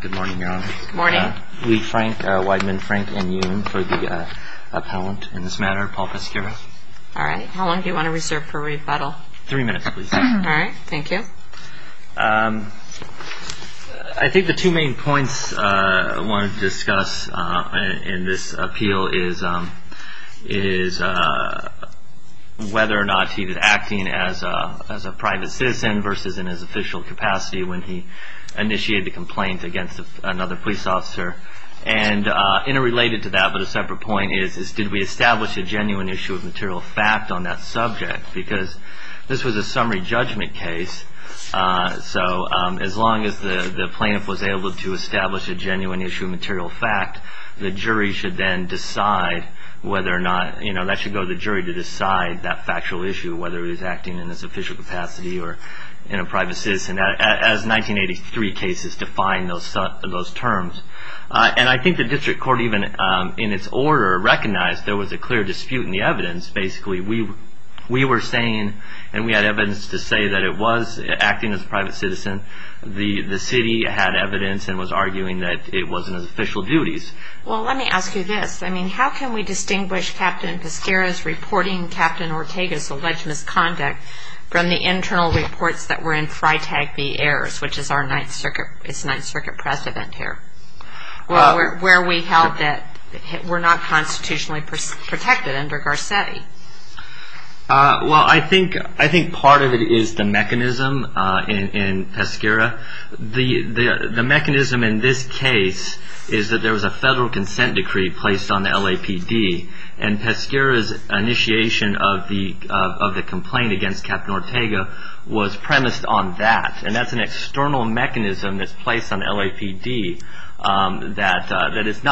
Good morning, Your Honor. Lee Frank, Weidman Frank, and Yoon for the appellant in this matter, Paul Pesqueira. All right. How long do you want to reserve for rebuttal? Three minutes, please. All right. Thank you. I think the two main points I want to discuss in this appeal is whether or not he was acting as a private citizen versus in his official capacity when he initiated the complaint against another police officer. And interrelated to that, but a separate point, is did we establish a genuine issue of material fact on that subject? Because this was a summary judgment case. So as long as the plaintiff was able to establish a genuine issue of material fact, the jury should then decide whether or not, you know, that should go to the jury to decide that factual issue, whether he was acting in his official capacity or in a private citizen, as 1983 cases define those terms. And I think the district court, even in its order, recognized there was a clear dispute in the evidence. Basically, we were saying, and we had evidence to say that it was acting as a private citizen. The city had evidence and was arguing that it wasn't his official duties. Well, let me ask you this. I mean, how can we distinguish Captain Pescara's reporting Captain Ortega's alleged misconduct from the internal reports that were in Freitag v. Ayers, which is our Ninth Circuit press event here, where we held that we're not constitutionally protected under Garcetti? Well, I think part of it is the mechanism in Pescara. The mechanism in this case is that there was a federal consent decree placed on the LAPD, and Pescara's initiation of the complaint against Captain Ortega was premised on that. And that's an external mechanism that's placed on the LAPD that is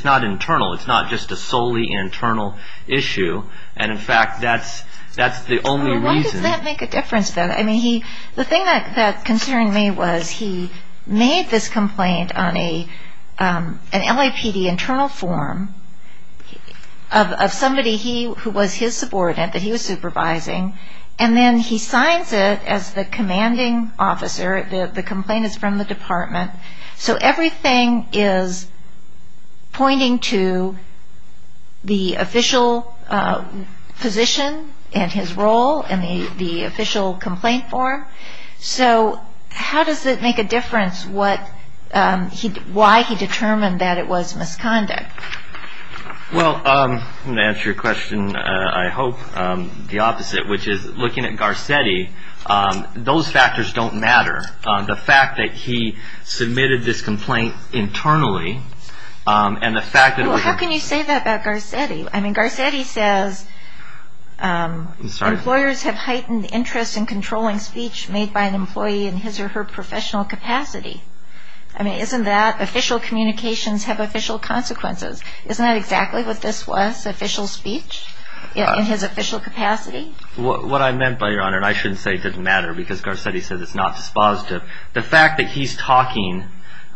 not internal. It's not just a solely internal issue. And, in fact, that's the only reason. Well, why does that make a difference, then? I mean, the thing that concerned me was he made this complaint on an LAPD internal form of somebody who was his subordinate that he was supervising, and then he signs it as the commanding officer. The complaint is from the department. So everything is pointing to the official position and his role in the official complaint form. So how does it make a difference why he determined that it was misconduct? Well, I'm going to answer your question, I hope, the opposite, which is, looking at Garcetti, those factors don't matter. The fact that he submitted this complaint internally, and the fact that it was a- Well, how can you say that about Garcetti? I mean, Garcetti says employers have heightened interest in controlling speech made by an employee in his or her professional capacity. I mean, isn't that official communications have official consequences? Isn't that exactly what this was, official speech in his official capacity? What I meant by your Honor, and I shouldn't say it doesn't matter because Garcetti says it's not dispositive, the fact that he's talking,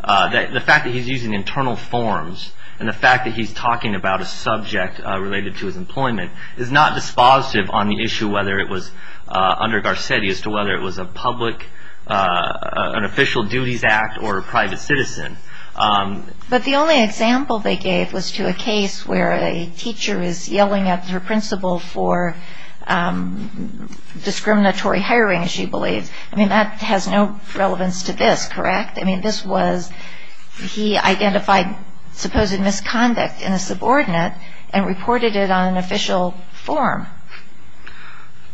the fact that he's using internal forms, and the fact that he's talking about a subject related to his employment, is not dispositive on the issue whether it was under Garcetti as to whether it was a public, an official duties act, or a private citizen. But the only example they gave was to a case where a teacher is yelling at her principal for discriminatory hiring, she believes. I mean, that has no relevance to this, correct? I mean, this was, he identified supposed misconduct in a subordinate, and reported it on an official form.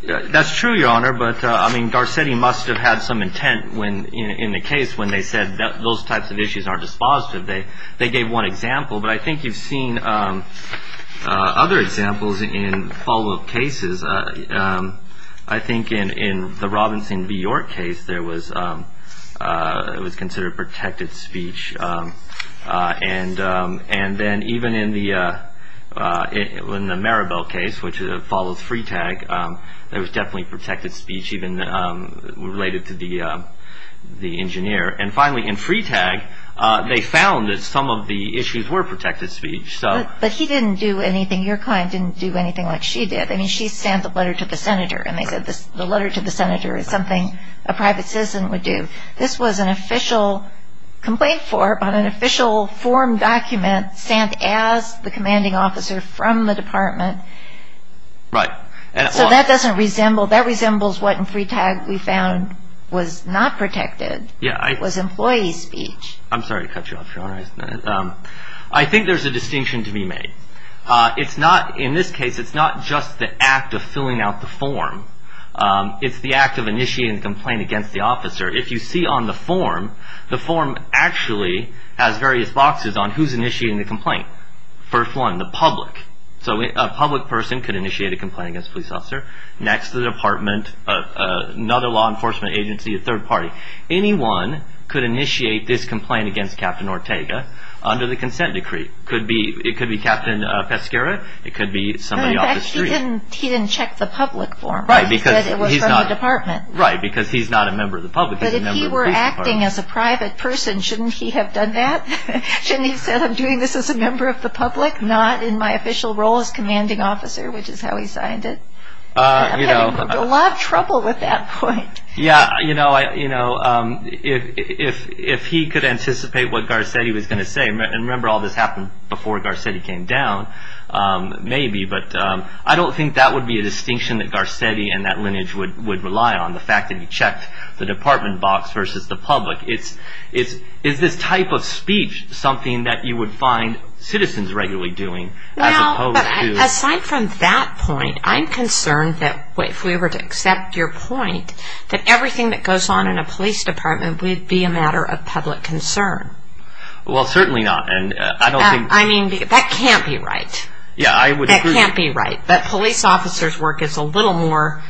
That's true, Your Honor, but I mean, Garcetti must have had some intent in the case when they said those types of issues aren't dispositive. They gave one example, but I think you've seen other examples in follow-up cases. I think in the Robinson v. York case, there was, it was considered protected speech. And then even in the Maribel case, which follows Freetag, there was definitely protected speech even related to the engineer. And finally, in Freetag, they found that some of the issues were protected speech. But he didn't do anything, your client didn't do anything like she did. I mean, she sent a letter to the senator, and they said the letter to the senator is something a private citizen would do. This was an official complaint form on an official form document sent as the commanding officer from the department. Right. So that doesn't resemble, that resembles what in Freetag we found was not protected, was employee speech. I'm sorry to cut you off, Your Honor. I think there's a distinction to be made. It's not, in this case, it's not just the act of filling out the form. It's the act of initiating the complaint against the officer. If you see on the form, the form actually has various boxes on who's initiating the complaint. First one, the public. So a public person could initiate a complaint against a police officer. Next, the department, another law enforcement agency, a third party. Anyone could initiate this complaint against Captain Ortega under the consent decree. It could be Captain Pescara, it could be somebody off the street. In fact, he didn't check the public form. Right. He said it was from the department. Right, because he's not a member of the public. But if he were acting as a private person, shouldn't he have done that? Shouldn't he have said, I'm doing this as a member of the public, not in my official role as commanding officer, which is how he signed it? I'm having a lot of trouble with that point. Yeah, you know, if he could anticipate what Garcetti was going to say, and remember all this happened before Garcetti came down, maybe, but I don't think that would be a distinction that Garcetti and that lineage would rely on, the fact that he checked the department box versus the public. Is this type of speech something that you would find citizens regularly doing? Well, aside from that point, I'm concerned that if we were to accept your point, that everything that goes on in a police department would be a matter of public concern. Well, certainly not. I mean, that can't be right. Yeah, I would agree. That can't be right. But police officers' work is a little more,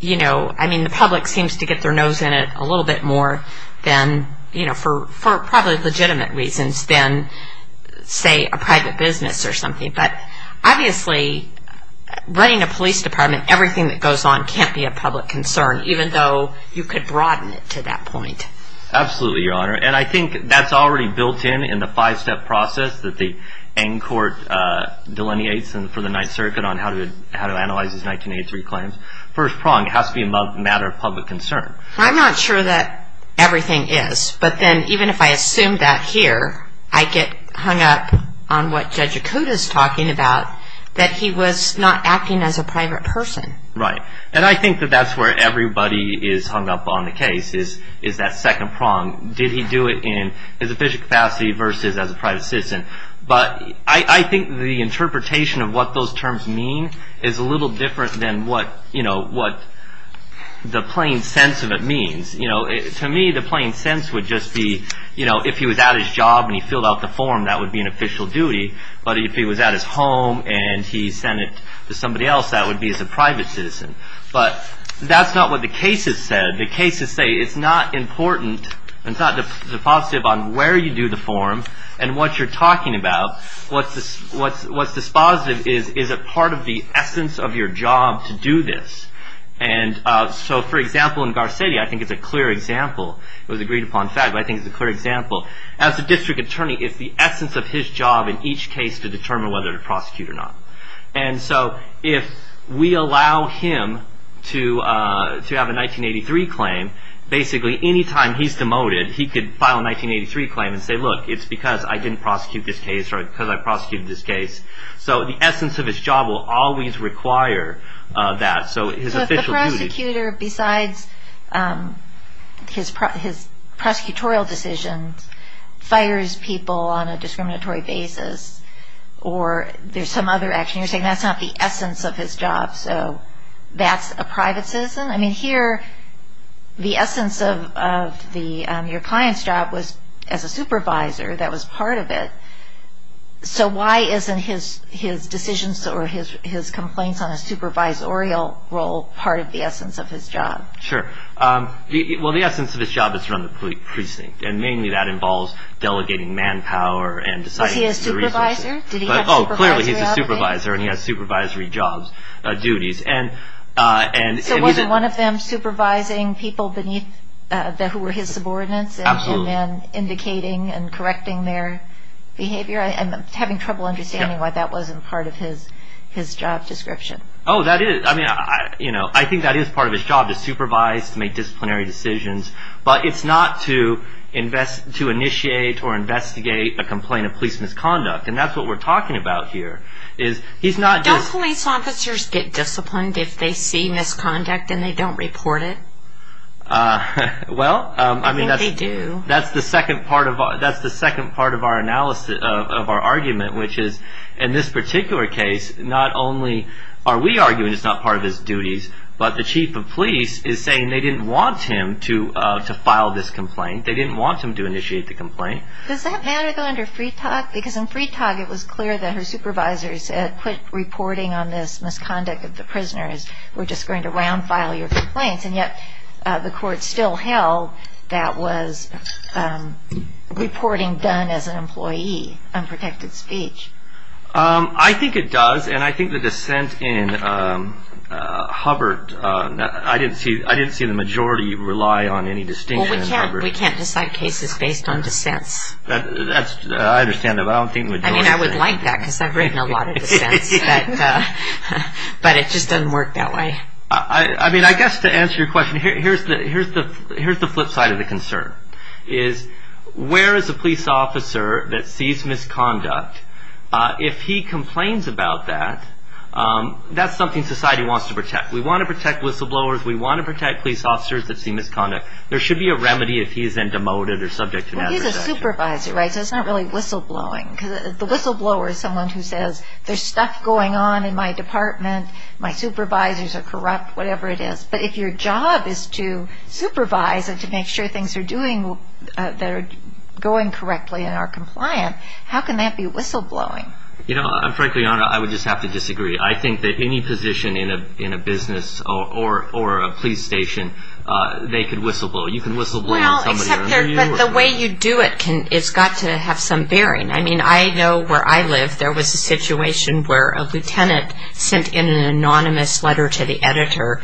you know, I mean the public seems to get their nose in it a little bit more than, you know, for probably legitimate reasons than, say, a private business or something. But obviously running a police department, everything that goes on can't be a public concern, even though you could broaden it to that point. Absolutely, Your Honor. And I think that's already built in in the five-step process that the N Court delineates for the Ninth Circuit on how to analyze his 1983 claims. First prong has to be a matter of public concern. I'm not sure that everything is, but then even if I assume that here, I get hung up on what Judge Acuda is talking about, that he was not acting as a private person. Right. And I think that that's where everybody is hung up on the case is that second prong. Did he do it in his official capacity versus as a private citizen? But I think the interpretation of what those terms mean is a little different than what, you know, what the plain sense of it means. You know, to me, the plain sense would just be, you know, if he was at his job and he filled out the form, that would be an official duty. But if he was at his home and he sent it to somebody else, that would be as a private citizen. But that's not what the cases said. The cases say it's not important. It's not the positive on where you do the form and what you're talking about. What's this? What's what's this positive? Is it part of the essence of your job to do this? And so, for example, in Garcetti, I think it's a clear example. It was agreed upon fact. I think it's a clear example. As a district attorney, it's the essence of his job in each case to determine whether to prosecute or not. And so if we allow him to have a 1983 claim, basically any time he's demoted, he could file a 1983 claim and say, look, it's because I didn't prosecute this case or because I prosecuted this case. So the essence of his job will always require that. So if the prosecutor, besides his prosecutorial decisions, fires people on a discriminatory basis or there's some other action, you're saying that's not the essence of his job, so that's a private citizen? I mean, here the essence of your client's job was as a supervisor. That was part of it. So why isn't his decisions or his complaints on a supervisorial role part of the essence of his job? Sure. Well, the essence of his job is to run the precinct, and mainly that involves delegating manpower and deciding the resources. Was he a supervisor? Oh, clearly he's a supervisor, and he has supervisory jobs, duties. So wasn't one of them supervising people beneath who were his subordinates and indicating and correcting their behavior? I'm having trouble understanding why that wasn't part of his job description. Oh, that is. I mean, I think that is part of his job, to supervise, to make disciplinary decisions, but it's not to initiate or investigate a complaint of police misconduct, and that's what we're talking about here. Don't police officers get disciplined if they see misconduct and they don't report it? Well, I mean, that's the second part of our argument, which is, in this particular case, not only are we arguing it's not part of his duties, but the chief of police is saying they didn't want him to file this complaint. They didn't want him to initiate the complaint. Does that matter under Freetog? Because in Freetog, it was clear that her supervisors had quit reporting on this misconduct of the prisoners, were just going to round file your complaints, and yet the court still held that was reporting done as an employee, unprotected speech. I think it does, and I think the dissent in Hubbard, I didn't see the majority rely on any distinction in Hubbard. We can't decide cases based on dissents. I understand that, but I don't think the majority. I mean, I would like that, because I've written a lot of dissents, but it just doesn't work that way. I mean, I guess to answer your question, here's the flip side of the concern, is where is a police officer that sees misconduct, if he complains about that, that's something society wants to protect. We want to protect whistleblowers. We want to protect police officers that see misconduct. There should be a remedy if he is then demoted or subject to nationalization. Well, he's a supervisor, right? So it's not really whistleblowing, because the whistleblower is someone who says, there's stuff going on in my department, my supervisors are corrupt, whatever it is. But if your job is to supervise and to make sure things are doing, that are going correctly and are compliant, how can that be whistleblowing? You know, frankly, Anna, I would just have to disagree. I think that any position in a business or a police station, they could whistleblow. You can whistleblow on somebody under you. Well, except the way you do it, it's got to have some bearing. I mean, I know where I live, there was a situation where a lieutenant sent in an anonymous letter to the editor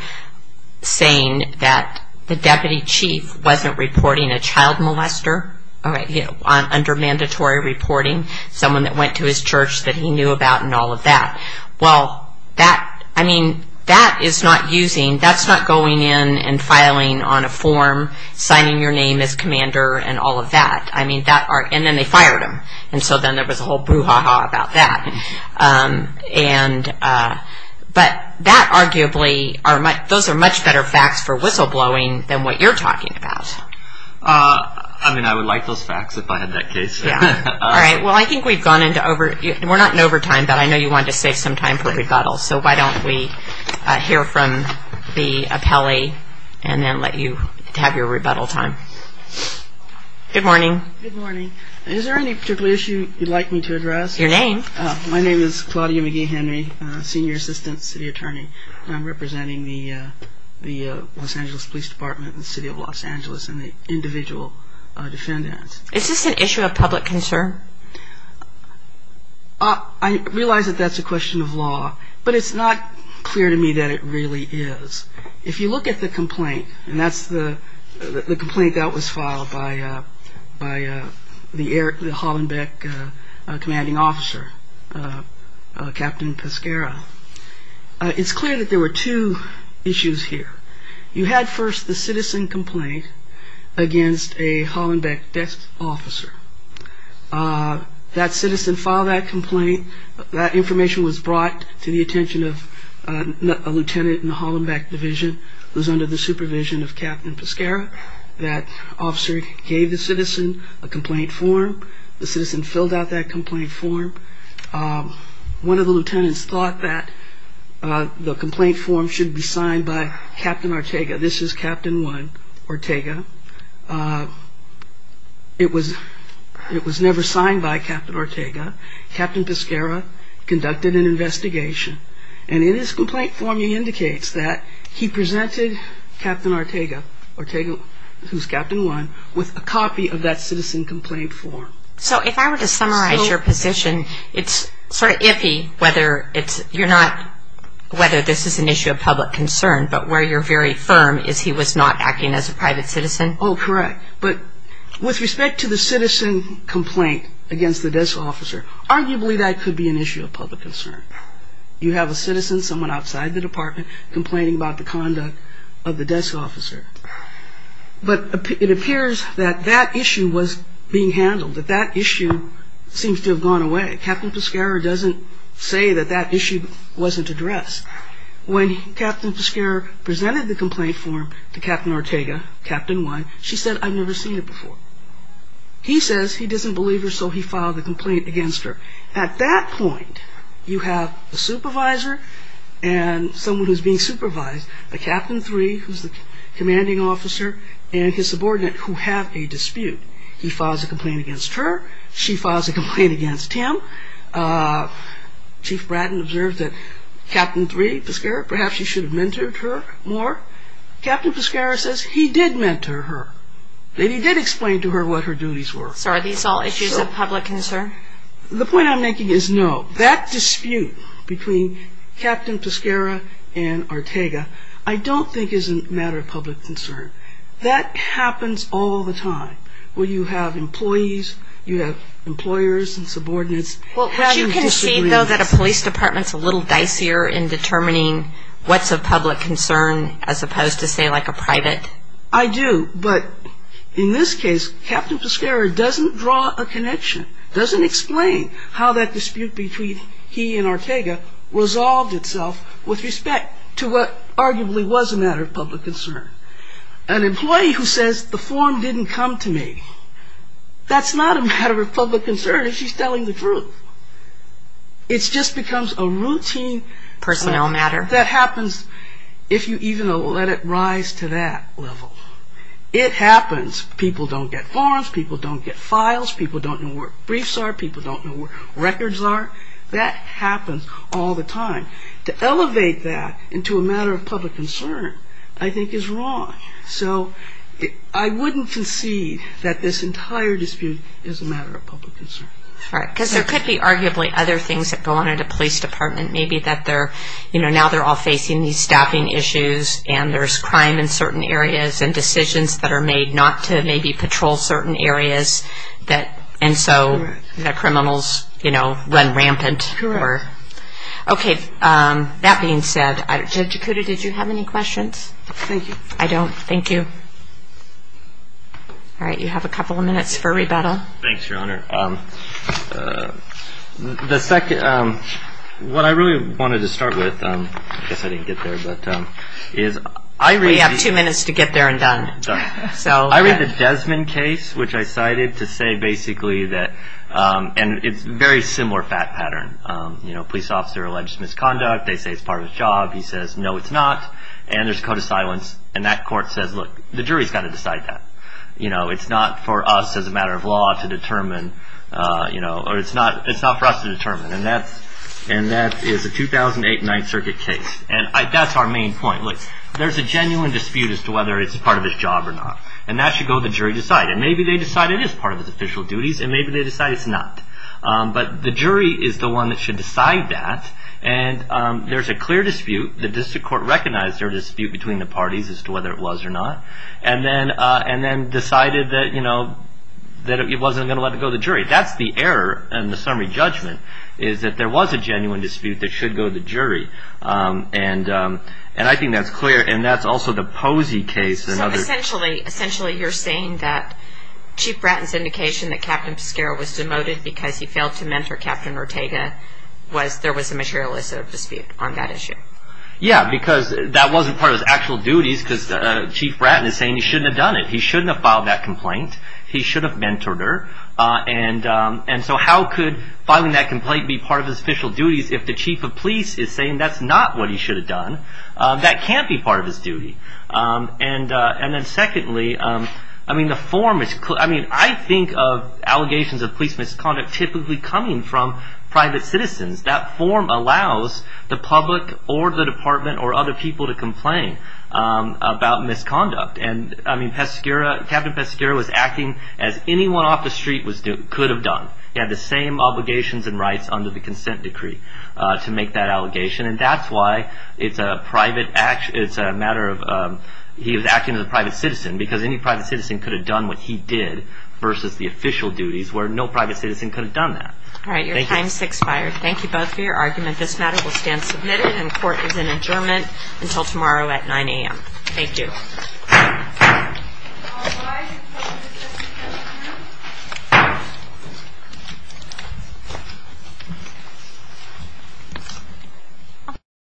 saying that the deputy chief wasn't reporting a child molester under mandatory reporting, someone that went to his church that he knew about and all of that. Well, that, I mean, that is not using, that's not going in and filing on a form, signing your name as commander and all of that. I mean, that, and then they fired him. And so then there was a whole brouhaha about that. And, but that arguably, those are much better facts for whistleblowing than what you're talking about. I mean, I would like those facts if I had that case. Yeah. All right. Well, I think we've gone into over, we're not in overtime, but I know you wanted to save some time for rebuttal. So why don't we hear from the appellee and then let you have your rebuttal time. Good morning. Good morning. Is there any particular issue you'd like me to address? Your name. My name is Claudia McGee-Henry, senior assistant city attorney. I'm representing the Los Angeles Police Department in the City of Los Angeles and the individual defendant. Is this an issue of public concern? I realize that that's a question of law, but it's not clear to me that it really is. If you look at the complaint, and that's the complaint that was filed by the Hollenbeck commanding officer, Captain Pescara, it's clear that there were two issues here. You had first the citizen complaint against a Hollenbeck desk officer. That citizen filed that complaint. That information was brought to the attention of a lieutenant in the Hollenbeck division who was under the supervision of Captain Pescara. That officer gave the citizen a complaint form. The citizen filled out that complaint form. One of the lieutenants thought that the complaint form should be signed by Captain Ortega. This is Captain 1, Ortega. It was never signed by Captain Ortega. Captain Pescara conducted an investigation, and in his complaint form he indicates that he presented Captain Ortega, who's Captain 1, with a copy of that citizen complaint form. So if I were to summarize your position, it's sort of iffy whether this is an issue of public concern, but where you're very firm is he was not acting as a private citizen? Oh, correct. But with respect to the citizen complaint against the desk officer, arguably that could be an issue of public concern. You have a citizen, someone outside the department, complaining about the conduct of the desk officer. But it appears that that issue was being handled, that that issue seems to have gone away. Captain Pescara doesn't say that that issue wasn't addressed. When Captain Pescara presented the complaint form to Captain Ortega, Captain 1, she said, I've never seen it before. He says he doesn't believe her, so he filed the complaint against her. At that point, you have a supervisor and someone who's being supervised, a Captain 3, who's the commanding officer, and his subordinate who have a dispute. He files a complaint against her. She files a complaint against him. Chief Bratton observed that Captain 3, Pescara, perhaps you should have mentored her more. Captain Pescara says he did mentor her. He did explain to her what her duties were. So are these all issues of public concern? The point I'm making is no. That dispute between Captain Pescara and Ortega I don't think is a matter of public concern. That happens all the time where you have employees, you have employers and subordinates. But you can see, though, that a police department's a little dicier in determining what's a public concern as opposed to, say, like a private. I do, but in this case, Captain Pescara doesn't draw a connection, doesn't explain how that dispute between he and Ortega resolved itself with respect to what arguably was a matter of public concern. An employee who says the form didn't come to me, that's not a matter of public concern if she's telling the truth. It just becomes a routine that happens if you even let it rise to that level. It happens. People don't get forms. People don't get files. People don't know where briefs are. People don't know where records are. That happens all the time. To elevate that into a matter of public concern, I think, is wrong. So I wouldn't concede that this entire dispute is a matter of public concern. Because there could be arguably other things that go on at a police department, maybe that now they're all facing these staffing issues and there's crime in certain areas and decisions that are made not to maybe patrol certain areas and so the criminals run rampant. Correct. Okay. That being said, Judge Ikuda, did you have any questions? Thank you. I don't. Thank you. All right. You have a couple of minutes for rebuttal. Thanks, Your Honor. The second, what I really wanted to start with, I guess I didn't get there, is We have two minutes to get there and done. I read the Desmond case, which I cited, to say basically that And it's a very similar fact pattern. Police officer alleges misconduct. They say it's part of his job. He says, no, it's not. And there's a code of silence. And that court says, look, the jury's got to decide that. It's not for us as a matter of law to determine or it's not for us to determine. And that is a 2008 Ninth Circuit case. And that's our main point. Look, there's a genuine dispute as to whether it's part of his job or not. And that should go to the jury to decide. And maybe they decide it is part of his official duties And maybe they decide it's not. But the jury is the one that should decide that. And there's a clear dispute. The district court recognized there was a dispute between the parties as to whether it was or not. And then decided that it wasn't going to let it go to the jury. That's the error in the summary judgment, is that there was a genuine dispute that should go to the jury. And I think that's clear. And that's also the Posey case. Essentially, you're saying that Chief Bratton's indication that Captain Piscara was demoted because he failed to mentor Captain Ortega, was there was a materialistic dispute on that issue. Yeah, because that wasn't part of his actual duties because Chief Bratton is saying he shouldn't have done it. He shouldn't have filed that complaint. He should have mentored her. And so how could filing that complaint be part of his official duties if the chief of police is saying that's not what he should have done? That can't be part of his duty. And then secondly, I mean, the form is clear. I mean, I think of allegations of police misconduct typically coming from private citizens. That form allows the public or the department or other people to complain about misconduct. And I mean, Piscara, Captain Piscara was acting as anyone off the street could have done. He had the same obligations and rights under the consent decree to make that allegation. And that's why it's a matter of he was acting as a private citizen because any private citizen could have done what he did versus the official duties where no private citizen could have done that. All right. Your time has expired. Thank you both for your argument. This matter will stand submitted and court is in adjournment until tomorrow at 9 a.m. Thank you. Thank you.